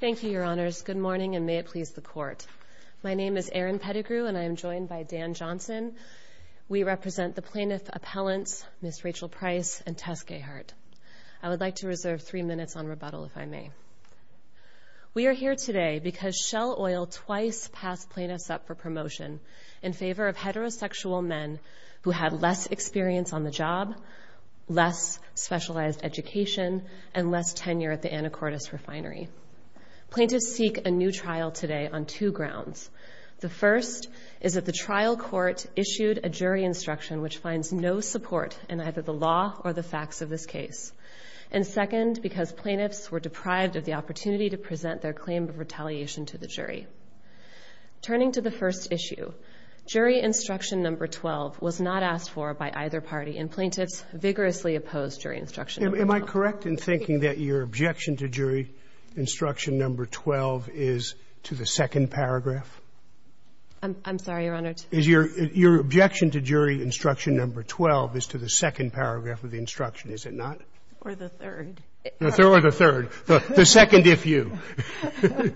Thank you, your honors. Good morning and may it please the court. My name is Erin Pettigrew and I am joined by Dan Johnson. We represent the plaintiff appellants Ms. Rachel Price and Tess Gahart. I would like to reserve three minutes on rebuttal if I may. We are here today because Shell Oil twice passed plaintiffs up for promotion in favor of heterosexual men who had less experience on the job, less specialized education, and less tenure at the Anacortes Refinery. Plaintiffs seek a new trial today on two grounds. The first is that the trial court issued a jury instruction which finds no support in either the law or the facts of this case. And second, because plaintiffs were deprived of the opportunity to present their claim of retaliation to the jury. Turning to the first issue, jury instruction number 12 was not asked for by either party, and plaintiffs vigorously opposed jury instruction number 12. Am I correct in thinking that your objection to jury instruction number 12 is to the second paragraph? I'm sorry, your honor. Is your objection to jury instruction number 12 is to the second paragraph of the instruction, is it not? Or the third. Or the third. The second if you.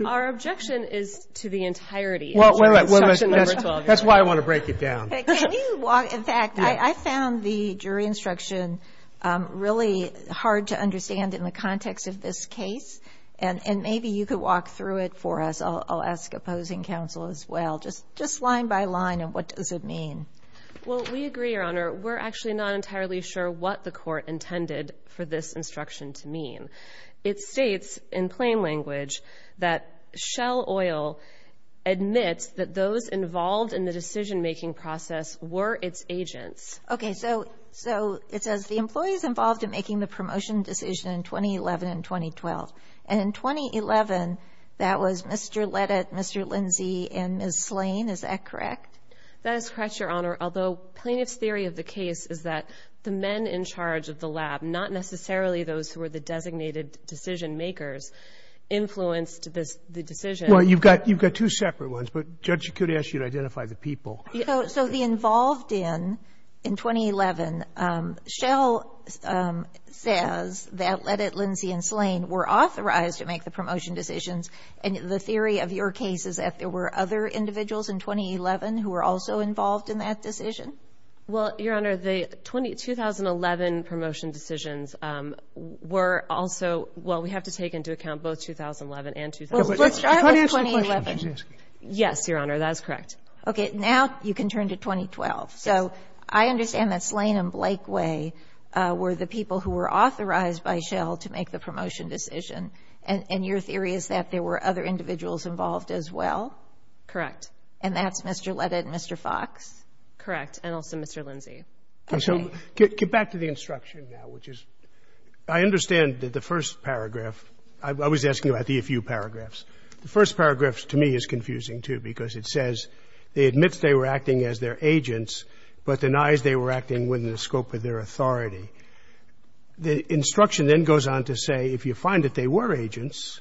Our objection is to the entirety of instruction number 12. That's why I want to break it down. Can you walk, in fact, I found the jury instruction really hard to understand in the context of this case. And maybe you could walk through it for us. I'll ask opposing counsel as well. Just line by line, and what does it mean? Well, we agree, your honor. We're actually not entirely sure what the court intended for this instruction to mean. It states in plain language that Shell Oil admits that those involved in the decision-making process were its agents. Okay. So it says the employees involved in making the promotion decision in 2011 and 2012. And in 2011, that was Mr. Ledet, Mr. Lindsay, and Ms. Slane. Is that correct? That is correct, your honor. Although plaintiff's theory of the case is that the men in charge of the lab, not necessarily those who were the You've got two separate ones. But, Judge, you could ask you to identify the people. So the involved in, in 2011, Shell says that Ledet, Lindsay, and Slane were authorized to make the promotion decisions. And the theory of your case is that there were other individuals in 2011 who were also involved in that decision? Well, your honor, the 2011 promotion decisions were also – well, we have to take into account both 2011 and 2012. Well, let's start with 2011. Yes, your honor. That is correct. Okay. Now you can turn to 2012. So I understand that Slane and Blakeway were the people who were authorized by Shell to make the promotion decision. And your theory is that there were other individuals involved as well? Correct. And that's Mr. Ledet and Mr. Fox? Correct. And also Mr. Lindsay. Okay. Get back to the instruction now, which is, I understand that the first paragraph – I was asking about the a few paragraphs. The first paragraph, to me, is confusing, too, because it says, they admit they were acting as their agents, but denies they were acting within the scope of their authority. The instruction then goes on to say, if you find that they were agents,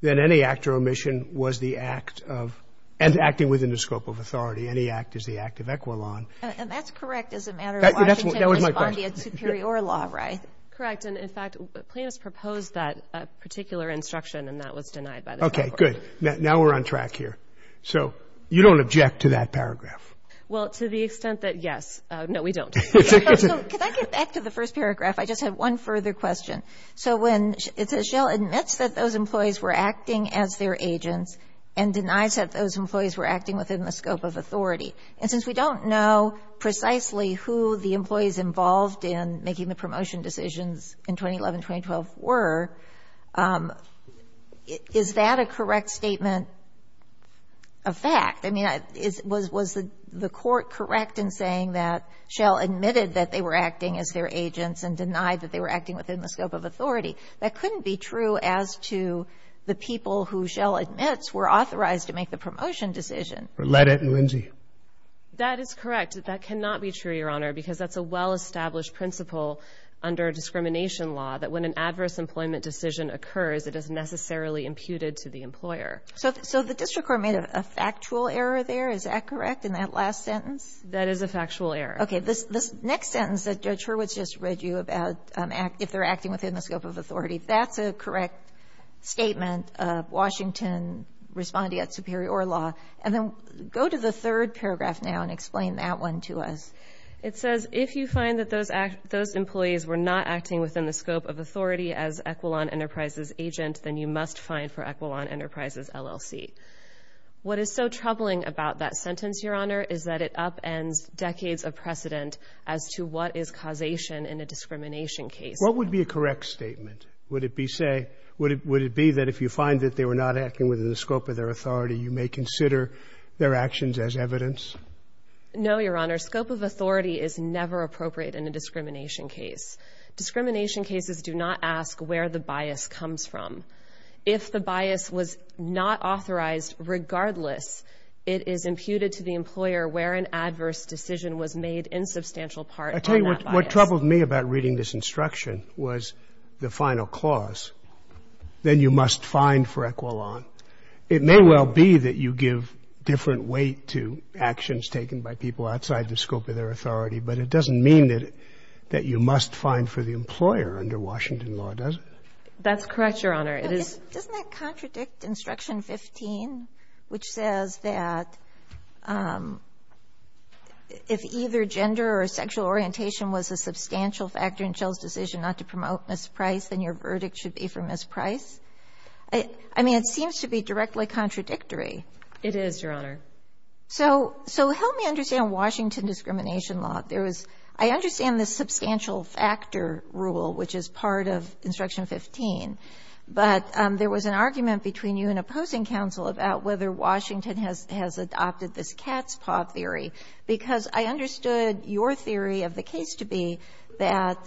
then any act or omission was the act of – and acting within the scope of authority. Any act is the act of equilan. And that's correct as a matter of Washington responding to a superior law, right? Correct. And in fact, plaintiffs proposed that particular instruction, and that was denied by the Supreme Court. Okay. Good. Now we're on track here. So you don't object to that paragraph? Well, to the extent that, yes. No, we don't. So could I get back to the first paragraph? I just have one further question. So when it says, Shell admits that those employees were acting as their agents and denies that those employees were acting within the scope of authority. And since we don't know precisely who the employees involved in making the promotion decisions in 2011-2012 were, is that a correct statement of fact? I mean, was the court correct in saying that Shell admitted that they were acting as their agents and denied that they were acting within the scope of authority? That couldn't be true as to the people who Shell admits were authorized to make the promotion decision. Or let it, and whimsy. That is correct. That cannot be true, Your Honor, because that's a well-established principle under discrimination law, that when an adverse employment decision occurs, it is necessarily imputed to the employer. So the district court made a factual error there. Is that correct in that last sentence? That is a factual error. Okay. This next sentence that Judge Hurwitz just read you about, if they're acting within the scope of authority, that's a correct statement of Washington responding at superior law. And then go to the third paragraph now and explain that one to us. It says, if you find that those employees were not acting within the scope of authority as Equilon Enterprises' agent, then you must find for Equilon Enterprises LLC. What is so troubling about that sentence, Your Honor, is that it upends decades of precedent as to what is causation in a discrimination case. What would be a correct statement? Would it be, say, would it be that if you find that they were not acting within the scope of their authority, you may consider their actions as evidence? No, Your Honor. Scope of authority is never appropriate in a discrimination case. Discrimination cases do not ask where the bias comes from. If the bias was not authorized, regardless, it is imputed to the employer where an adverse decision was made in substantial part on that bias. I'll tell you what troubled me about reading this instruction was the final clause, then you must find for Equilon. It may well be that you give different weight to actions taken by people outside the scope of their authority, but it doesn't mean that you must find for the employer under Washington law, does it? That's correct, Your Honor. It is — Doesn't that contradict Instruction 15, which says that if either gender or sexual orientation was a substantial factor in Shell's decision not to promote Ms. Price, then your verdict should be for Ms. Price? I mean, it seems to be directly contradictory. It is, Your Honor. So help me understand Washington discrimination law. There was — I understand the substantial factor rule, which is part of Instruction 15, but there was an argument between you and opposing counsel about whether Washington has adopted this cat's paw theory, because I understood your theory of the case to be that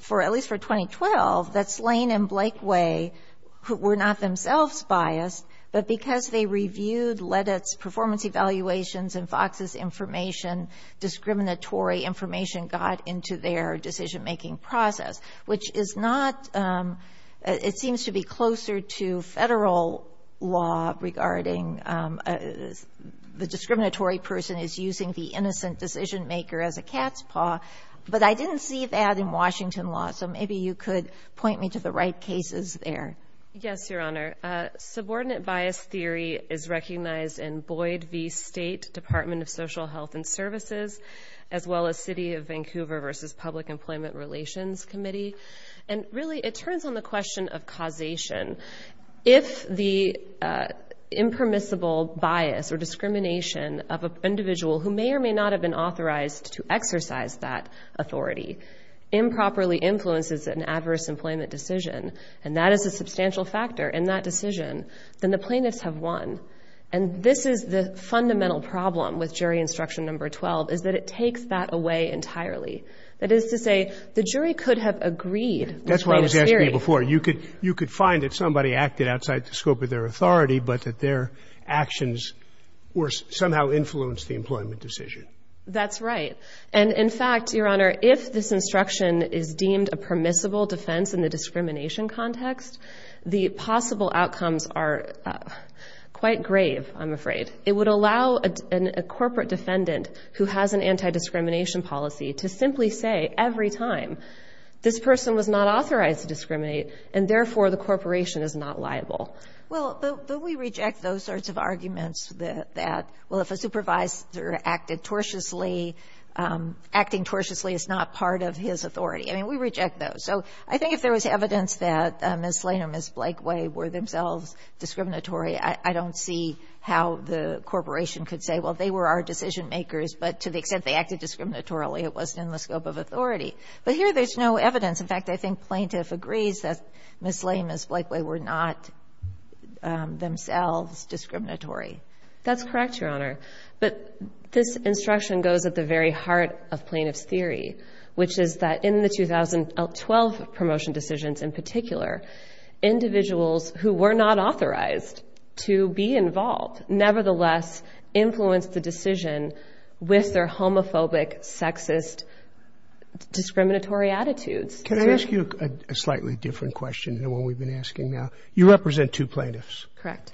for — at least for 2012, that Slane and Blakeway were not themselves biased, but because they reviewed Ledet's performance evaluations and Fox's information, discriminatory information got into their decision-making process, which is not — it seems to be closer to Federal law regarding the discriminatory person is using the innocent decision-maker as a cat's paw. Maybe you could point me to the right cases there. Yes, Your Honor. Subordinate bias theory is recognized in Boyd v. State Department of Social Health and Services, as well as City of Vancouver v. Public Employment Relations Committee. And really, it turns on the question of causation. If the impermissible bias or discrimination of an individual who may or may not have been an adverse employment decision, and that is a substantial factor in that decision, then the plaintiffs have won. And this is the fundamental problem with jury Instruction No. 12, is that it takes that away entirely. That is to say, the jury could have agreed — That's why I was asking you before. You could find that somebody acted outside the scope of their authority, but that their actions somehow influenced the employment decision. That's right. And in fact, Your Honor, if this instruction is deemed a permissible defense in the discrimination context, the possible outcomes are quite grave, I'm afraid. It would allow a corporate defendant who has an anti-discrimination policy to simply say every time, this person was not authorized to discriminate, and therefore the corporation is not liable. Well, but we reject those sorts of arguments that, well, if a supervisor acted tortiously — acting tortiously is not part of his authority. I mean, we reject those. So I think if there was evidence that Ms. Lane or Ms. Blakeway were themselves discriminatory, I don't see how the corporation could say, well, they were our decision makers, but to the extent they acted discriminatorily, it wasn't in the scope of authority. But here, there's no evidence. In fact, I think plaintiff agrees that Ms. Lane and Ms. Blakeway were not themselves discriminatory. That's correct, Your Honor. But this instruction goes at the very heart of plaintiff's theory, which is that in the 2012 promotion decisions in particular, individuals who were not authorized to be involved nevertheless influenced the decision with their homophobic, sexist, discriminatory attitudes. Can I ask you a slightly different question than what we've been asking now? You represent two plaintiffs. Correct.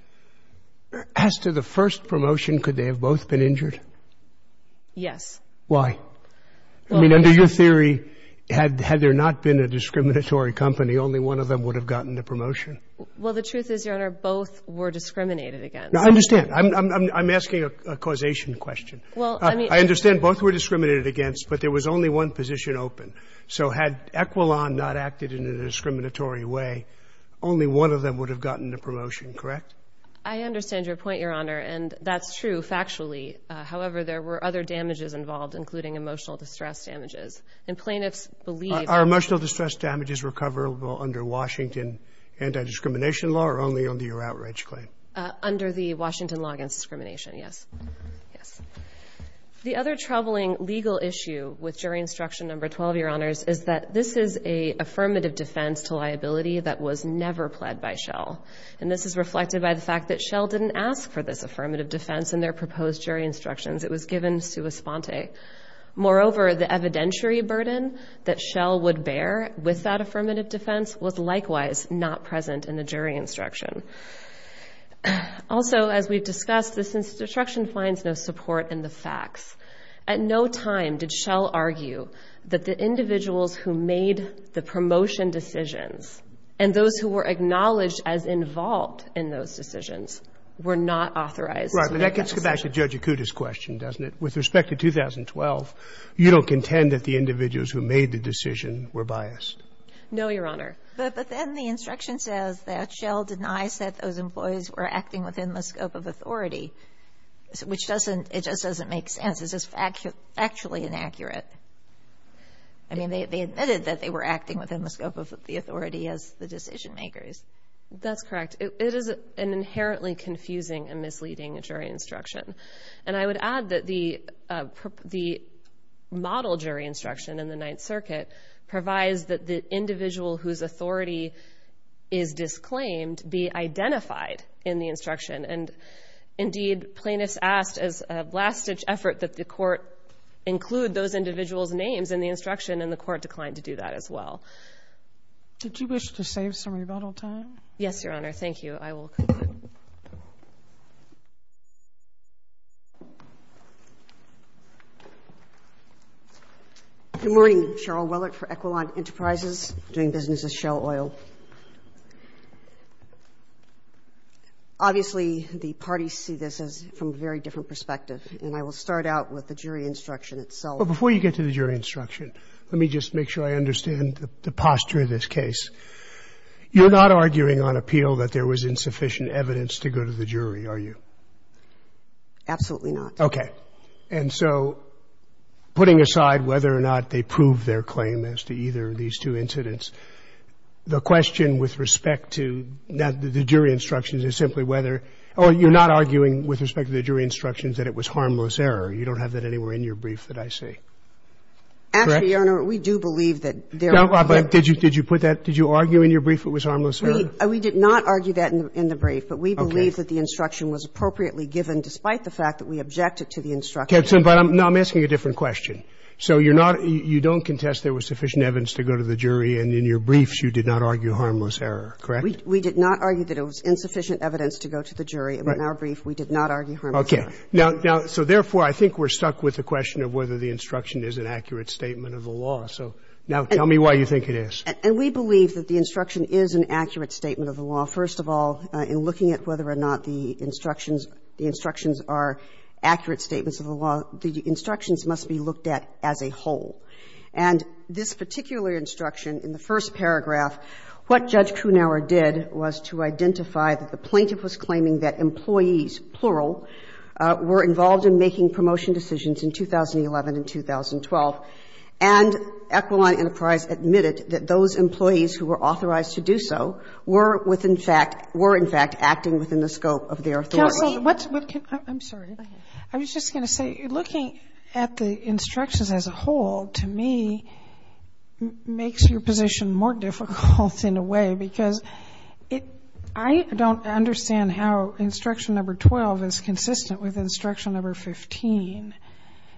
As to the first promotion, could they have both been injured? Yes. Why? I mean, under your theory, had there not been a discriminatory company, only one of them would have gotten the promotion. Well, the truth is, Your Honor, both were discriminated against. I understand. I'm asking a causation question. I understand both were discriminated against, but there was only one position open. So had Equilon not acted in a discriminatory way, only one of them would have gotten the promotion, correct? I understand your point, Your Honor, and that's true factually. However, there were other damages involved, including emotional distress damages. And plaintiffs believe— Are emotional distress damages recoverable under Washington anti-discrimination law or only under your outrage claim? Under the Washington law against discrimination, yes. Yes. The other troubling legal issue with jury instruction number 12, Your Honor, is that this is an affirmative defense to liability that was never pled by Shell. And this is reflected by the fact that Shell didn't ask for this affirmative defense in their proposed jury instructions. It was given sua sponte. Moreover, the evidentiary burden that Shell would bear with that affirmative defense was likewise not present in the jury instruction. Also, as we've discussed, this instruction finds no support in the facts. At no time did Shell argue that the individuals who made the promotion decisions and those who were acknowledged as involved in those decisions were not authorized— Right. But that gets back to Judge Acuda's question, doesn't it? With respect to 2012, you don't contend that the individuals who made the decision were biased? No, Your Honor. But then the instruction says that Shell denies that those employees were acting within the scope of authority, which doesn't — it just doesn't make sense. This is factually inaccurate. I mean, they admitted that they were acting within the scope of the authority as the decision makers. That's correct. It is an inherently confusing and misleading jury instruction. And I would add that the model jury instruction in the Ninth Circuit provides that the individual whose authority is disclaimed be identified in the instruction. And indeed, plaintiffs asked as a last-ditch effort that the Court include those individuals' names in the instruction, and the Court declined to do that as well. Did you wish to save some rebuttal time? Yes, Your Honor. Thank you. I will conclude. Good morning. Cheryl Willett for Equilon Enterprises, doing business with Shell Oil. Obviously, the parties see this as from a very different perspective, and I will start out with the jury instruction itself. Well, before you get to the jury instruction, let me just make sure I understand the posture of this case. You're not arguing on appeal that there was insufficient evidence to go to the jury, are you? Absolutely not. Okay. And so putting aside whether or not they proved their claim as to either of these two incidents, the question with respect to the jury instructions is simply whether or you're not arguing with respect to the jury instructions that it was harmless error. You don't have that anywhere in your brief that I see. Correct? Actually, Your Honor, we do believe that there was. Did you put that? Did you argue in your brief it was harmless error? We did not argue that in the brief. Okay. But we believe that the instruction was appropriately given, despite the fact that we objected to the instruction. But I'm asking a different question. So you're not you don't contest there was sufficient evidence to go to the jury, and in your briefs you did not argue harmless error. Correct? We did not argue that it was insufficient evidence to go to the jury. In our brief, we did not argue harmless error. Okay. Now, so therefore, I think we're stuck with the question of whether the instruction is an accurate statement of the law. So now tell me why you think it is. And we believe that the instruction is an accurate statement of the law. First of all, in looking at whether or not the instructions are accurate statements of the law, the instructions must be looked at as a whole. And this particular instruction in the first paragraph, what Judge Kronauer did was to identify that the plaintiff was claiming that employees, plural, were involved in making promotion decisions in 2011 and 2012, and Equaline Enterprise admitted that those employees who were authorized to do so were with, in fact, were, in fact, acting within the scope of their authority. So what's the question? I'm sorry. Go ahead. I was just going to say, looking at the instructions as a whole, to me, makes your position more difficult in a way, because I don't understand how instruction number 12 is consistent with instruction number 15,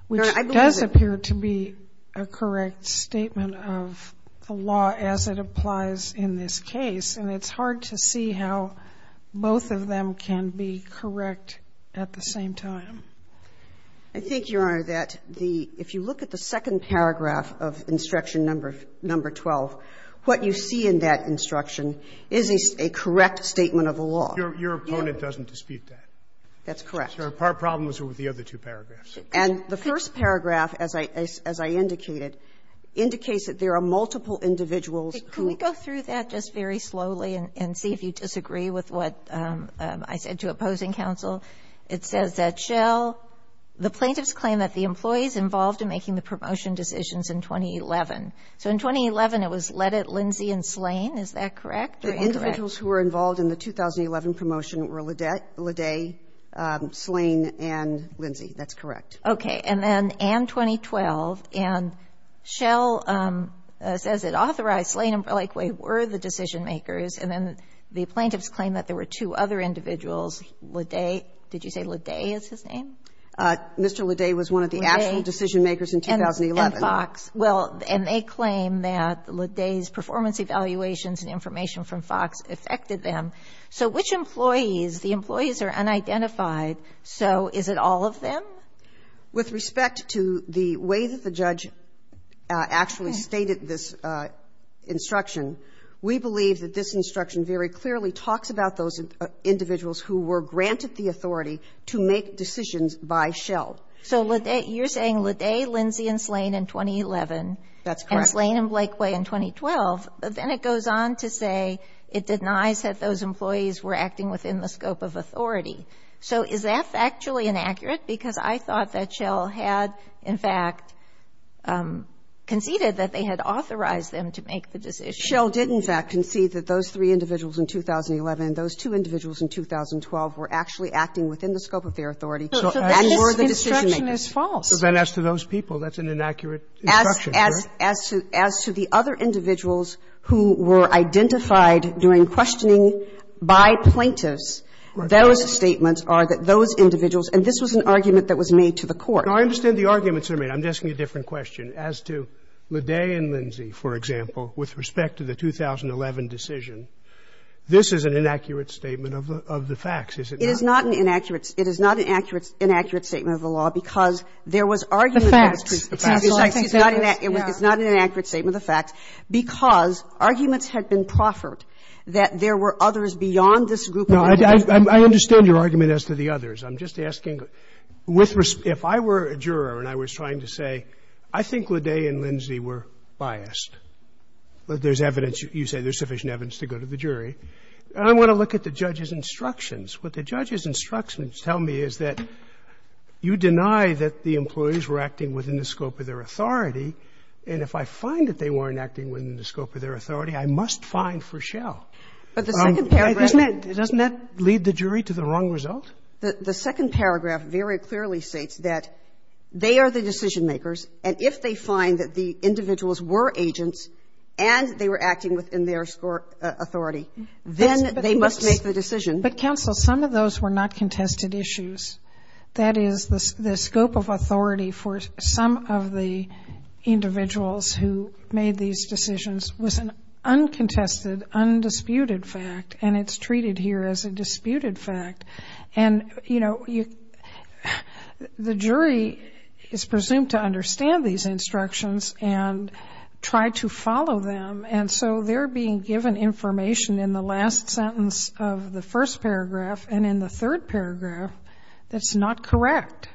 which does appear to be a correct statement of the law as it applies in this case, and it's hard to see how both of them can be correct at the same time. I think, Your Honor, that the – if you look at the second paragraph of instruction number 12, what you see in that instruction is a correct statement of the law. Your opponent doesn't dispute that. That's correct. So her problem was with the other two paragraphs. And the first paragraph, as I indicated, indicates that there are multiple individuals who – I said to opposing counsel. It says that Shell – the plaintiffs claim that the employees involved in making the promotion decisions in 2011. So in 2011, it was Ledet, Lindsey, and Slane. Is that correct? They're incorrect. The individuals who were involved in the 2011 promotion were Ledet, Slane, and Lindsey. That's correct. Okay. And then, and 2012. And Shell says it authorized Slane, and, likewise, were the decision-makers. And then the plaintiffs claim that there were two other individuals. Ledet – did you say Ledet is his name? Mr. Ledet was one of the actual decision-makers in 2011. And Fox. Well, and they claim that Ledet's performance evaluations and information from Fox affected them. So which employees – the employees are unidentified, so is it all of them? With respect to the way that the judge actually stated this instruction, we believe that this instruction very clearly talks about those individuals who were granted the authority to make decisions by Shell. So Ledet – you're saying Ledet, Lindsey, and Slane in 2011. That's correct. And Slane and Blakeway in 2012. But then it goes on to say it denies that those employees were acting within the scope of authority. So is that factually inaccurate? Because I thought that Shell had, in fact, conceded that they had authorized them to make the decision. Shell did, in fact, concede that those three individuals in 2011 and those two individuals in 2012 were actually acting within the scope of their authority and were the decision-makers. So then as to those people, that's an inaccurate instruction, correct? As to the other individuals who were identified during questioning by plaintiffs, those statements are that those individuals – and this was an argument that was made to the Court. No, I understand the arguments that were made. I'm just asking a different question. As to Ledet and Lindsey, for example, with respect to the 2011 decision, this is an inaccurate statement of the facts, is it not? It is not an inaccurate – it is not an inaccurate statement of the law, because there was argument that was produced. The facts. The facts. It's not an inaccurate statement of the facts, because arguments had been proffered that there were others beyond this group of individuals. No, I understand your argument as to the others. I'm just asking, if I were a juror and I was trying to say, I think Ledet and Lindsey were biased, that there's evidence, you say there's sufficient evidence to go to the jury, I want to look at the judge's instructions. What the judge's instructions tell me is that you deny that the employees were acting within the scope of their authority, and if I find that they weren't acting within the scope of their authority, I must find Ferschel. But the second paragraph – Doesn't that lead the jury to the wrong result? The second paragraph very clearly states that they are the decision-makers, and if they find that the individuals were agents and they were acting within their authority, then they must make the decision. But, counsel, some of those were not contested issues. That is, the scope of authority for some of the individuals who made these decisions was an uncontested, undisputed fact, and it's treated here as a disputed fact. And, you know, the jury is presumed to understand these instructions and try to follow them, and so they're being given information in the last sentence of the first paragraph and in the third paragraph that's not correct.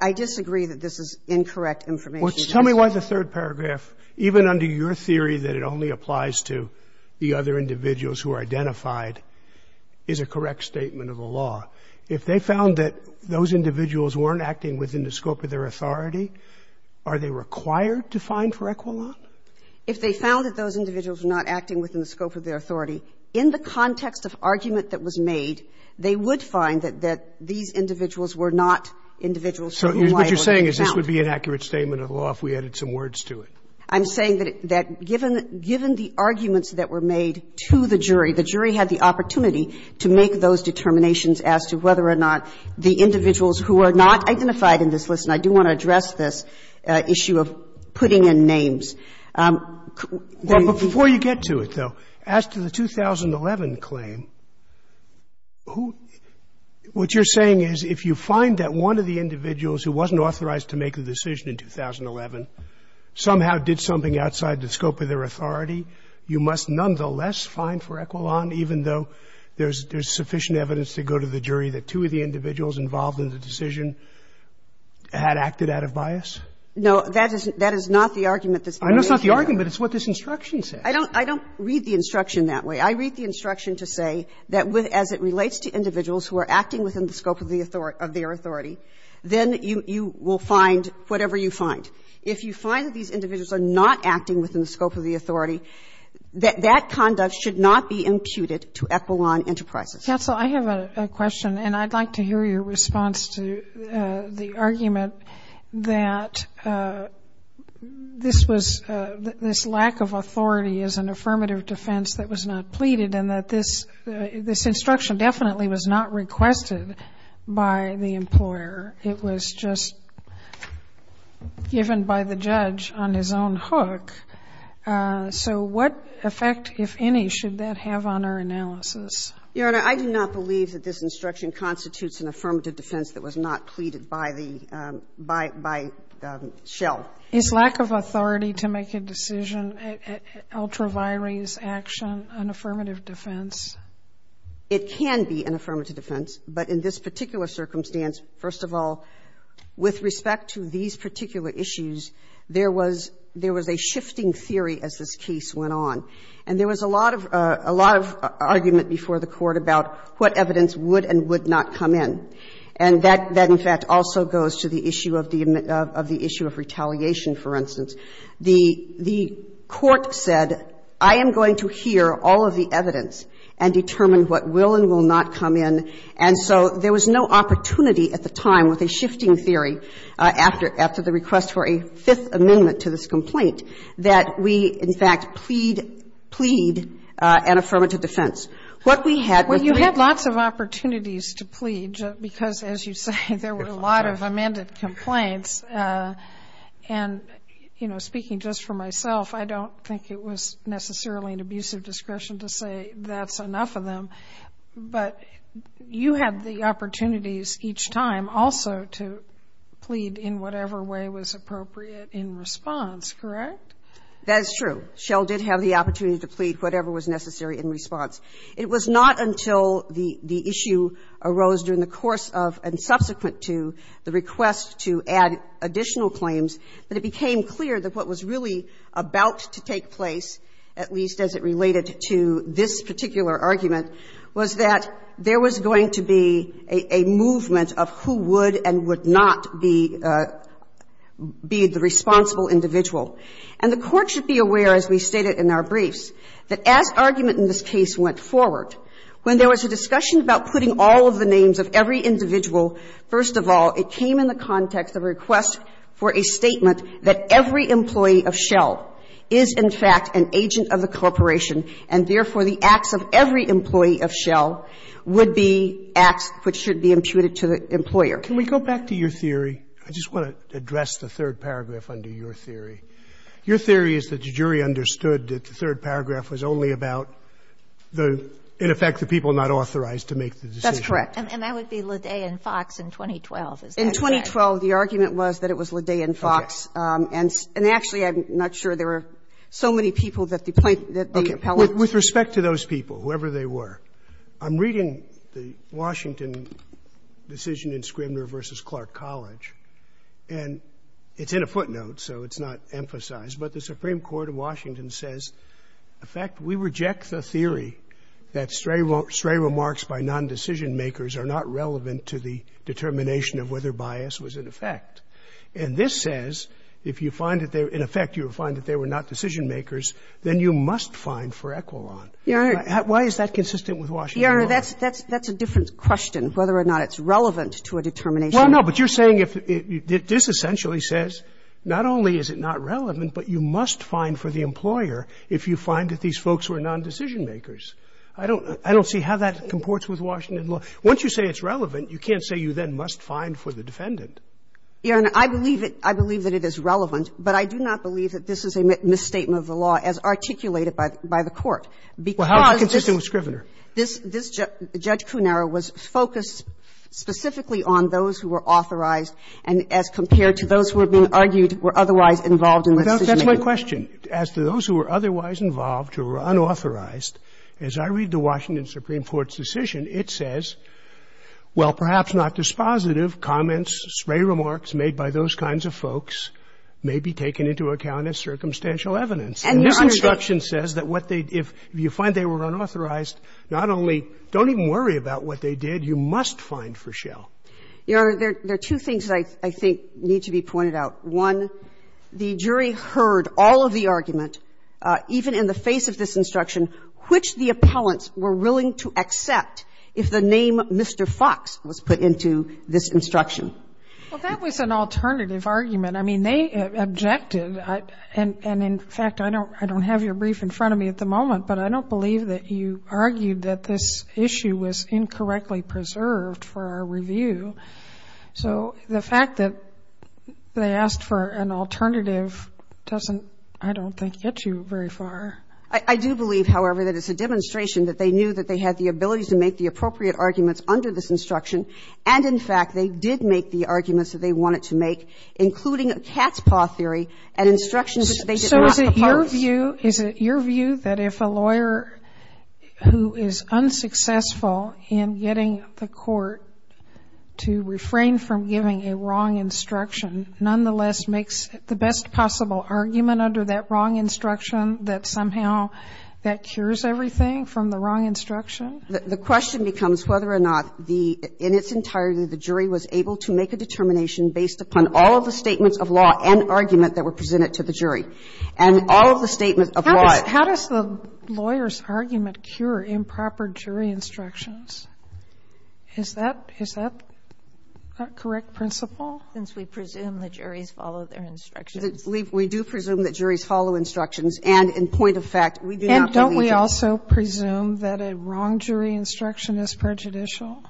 I disagree that this is incorrect information. Tell me why the third paragraph, even under your theory that it only applies to the correct statement of the law, if they found that those individuals weren't acting within the scope of their authority, are they required to find for equivalent? If they found that those individuals were not acting within the scope of their authority, in the context of argument that was made, they would find that these individuals were not individuals who were liable to be found. So what you're saying is this would be an accurate statement of the law if we added some words to it. I'm saying that given the arguments that were made to the jury, the jury had the opportunity to make those determinations as to whether or not the individuals who are not identified in this list, and I do want to address this issue of putting in names. Roberts, before you get to it, though, as to the 2011 claim, who — what you're saying is if you find that one of the individuals who wasn't authorized to make a decision in 2011 somehow did something outside the scope of their authority, you must nonetheless find for equivalent, even though there's sufficient evidence to go to the jury that two of the individuals involved in the decision had acted out of bias? No. That is not the argument that's being made here. I know it's not the argument, but it's what this instruction says. I don't read the instruction that way. I read the instruction to say that as it relates to individuals who are acting within the scope of their authority, then you will find whatever you find. If you find that these individuals are not acting within the scope of the authority, that that conduct should not be imputed to Equilon Enterprises. Counsel, I have a question, and I'd like to hear your response to the argument that this was — this lack of authority is an affirmative defense that was not pleaded and that this — this instruction definitely was not requested by the employer. It was just given by the judge on his own hook. So what effect, if any, should that have on our analysis? Your Honor, I do not believe that this instruction constitutes an affirmative defense that was not pleaded by the — by Shell. Is lack of authority to make a decision ultra vires action an affirmative defense? It can be an affirmative defense, but in this particular circumstance, first of all, with respect to these particular issues, there was — there was a shifting theory as this case went on, and there was a lot of — a lot of argument before the Court about what evidence would and would not come in, and that, in fact, also goes to the issue of the — of the issue of retaliation, for instance. The Court said, I am going to hear all of the evidence and determine what will and will not come in, and so there was no opportunity at the time with a shifting theory after — after the request for a Fifth Amendment to this complaint that we, in fact, plead — plead an affirmative defense. What we had — Well, you had lots of opportunities to plead because, as you say, there were a lot of amended complaints, and, you know, speaking just for myself, I don't think it was necessarily an abusive discretion to say that's enough of them, but you had the opportunities each time also to plead in whatever way was appropriate in response, correct? That's true. Shell did have the opportunity to plead whatever was necessary in response. It was not until the — the issue arose during the course of and subsequent to the request to add additional claims that it became clear that what was really about to take place, at least as it related to this particular argument, was that there was going to be a — a movement of who would and would not be — be the responsible individual. And the Court should be aware, as we stated in our briefs, that as argument in this case went forward, when there was a discussion about putting all of the names of every individual, first of all, it came in the context of a request for a statement that every employee of Shell is, in fact, an agent of the corporation, and, therefore, the acts of every employee of Shell would be acts which should be imputed to the employer. Can we go back to your theory? I just want to address the third paragraph under your theory. Your theory is that the jury understood that the third paragraph was only about the — in effect, the people not authorized to make the decision. That's correct. And that would be Ledet and Fox in 2012, is that correct? In 2012, the argument was that it was Ledet and Fox. Okay. And actually, I'm not sure. There were so many people that the plaintiffs — Okay. With respect to those people, whoever they were, I'm reading the Washington decision in Scribner v. Clark College, and it's in a footnote, so it's not emphasized, but the Supreme Court of Washington says, in fact, we reject the theory that stray remarks by nondecision makers are not relevant to the determination of whether bias was in effect. And this says, if you find that they're — in effect, you would find that they were not decision makers, then you must find for Equilon. Your Honor — Why is that consistent with Washington law? Your Honor, that's a different question, whether or not it's relevant to a determination. Well, no, but you're saying if — this essentially says, not only is it not relevant, but you must find for the employer if you find that these folks were nondecision makers. I don't — I don't see how that comports with Washington law. Once you say it's relevant, you can't say you then must find for the defendant. Your Honor, I believe it — I believe that it is relevant, but I do not believe that this is a misstatement of the law as articulated by the Court, because this — Well, how is it consistent with Scribner? This — this — Judge Cunero was focused specifically on those who were authorized, and as compared to those who were being argued were otherwise involved in the decision making. That's my question. As to those who were otherwise involved, who were unauthorized, as I read the Washington Supreme Court's decision, it says, well, perhaps not dispositive, comments, spray remarks made by those kinds of folks may be taken into account as circumstantial evidence. And this instruction says that what they — if you find they were unauthorized, not only — don't even worry about what they did. You must find for Schell. Your Honor, there are two things that I think need to be pointed out. One, the jury heard all of the argument, even in the face of this instruction, which the appellants were willing to accept if the name Mr. Fox was put into this instruction. Well, that was an alternative argument. I mean, they objected. And in fact, I don't — I don't have your brief in front of me at the moment, but I don't believe that you argued that this issue was incorrectly preserved for our review. So the fact that they asked for an alternative doesn't, I don't think, get you very far. I do believe, however, that it's a demonstration that they knew that they had the ability to make the appropriate arguments under this instruction, and in fact, they did make the arguments that they wanted to make, including a cat's paw theory and instructions that they did not oppose. So is it your view — is it your view that if a lawyer who is unsuccessful in getting the court to refrain from giving a wrong instruction nonetheless makes the best possible argument under that wrong instruction, that somehow that cures everything from the wrong instruction? The question becomes whether or not the — in its entirety, the jury was able to make a determination based upon all of the statements of law and argument that were presented And all of the statements of law — How does the lawyer's argument cure improper jury instructions? Is that — is that a correct principle? Since we presume the juries follow their instructions. We do presume that juries follow instructions. And in point of fact, we do not believe that. And don't we also presume that a wrong jury instruction is prejudicial?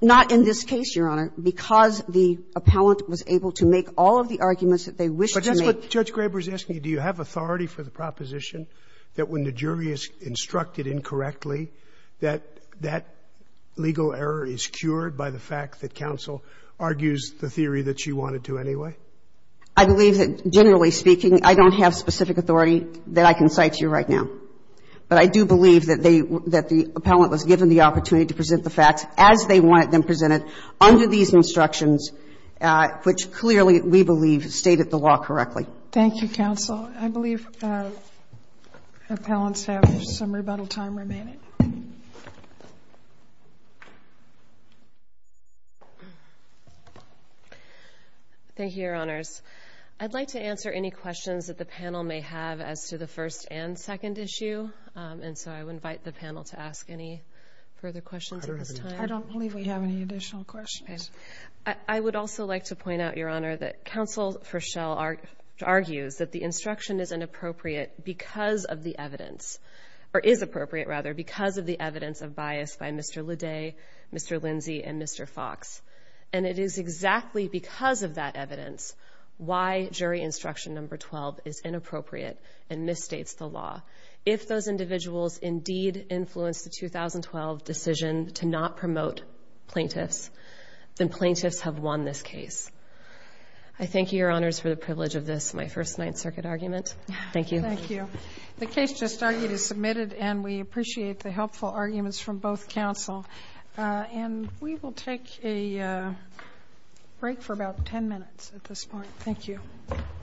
Not in this case, Your Honor. Because the appellant was able to make all of the arguments that they wished to make. But that's what Judge Graber is asking you. Do you have authority for the proposition that when the jury is instructed incorrectly, that that legal error is cured by the fact that counsel argues the theory that she wanted to anyway? I believe that, generally speaking, I don't have specific authority that I can cite to you right now. But I do believe that they — that the appellant was given the opportunity to present the facts as they wanted them presented under these instructions, which clearly, we believe, stated the law correctly. Thank you, counsel. I believe appellants have some rebuttal time remaining. Thank you, Your Honors. I'd like to answer any questions that the panel may have as to the first and second issue. And so I would invite the panel to ask any further questions at this time. I don't believe we have any additional questions. I would also like to point out, Your Honor, that counsel Fischel argues that the instruction is inappropriate because of the evidence — or is appropriate, rather, because of the evidence of bias by Mr. Lede, Mr. Lindsey, and Mr. Fox. And it is exactly because of that evidence why jury instruction number 12 is inappropriate and misstates the law. If those individuals indeed influenced the 2012 decision to not promote plaintiffs, then plaintiffs have won this case. I thank you, Your Honors, for the privilege of this, my First Ninth Circuit argument. Thank you. Thank you. The case just argued is submitted, and we appreciate the helpful arguments from both counsel. And we will take a break for about 10 minutes at this point. Thank you.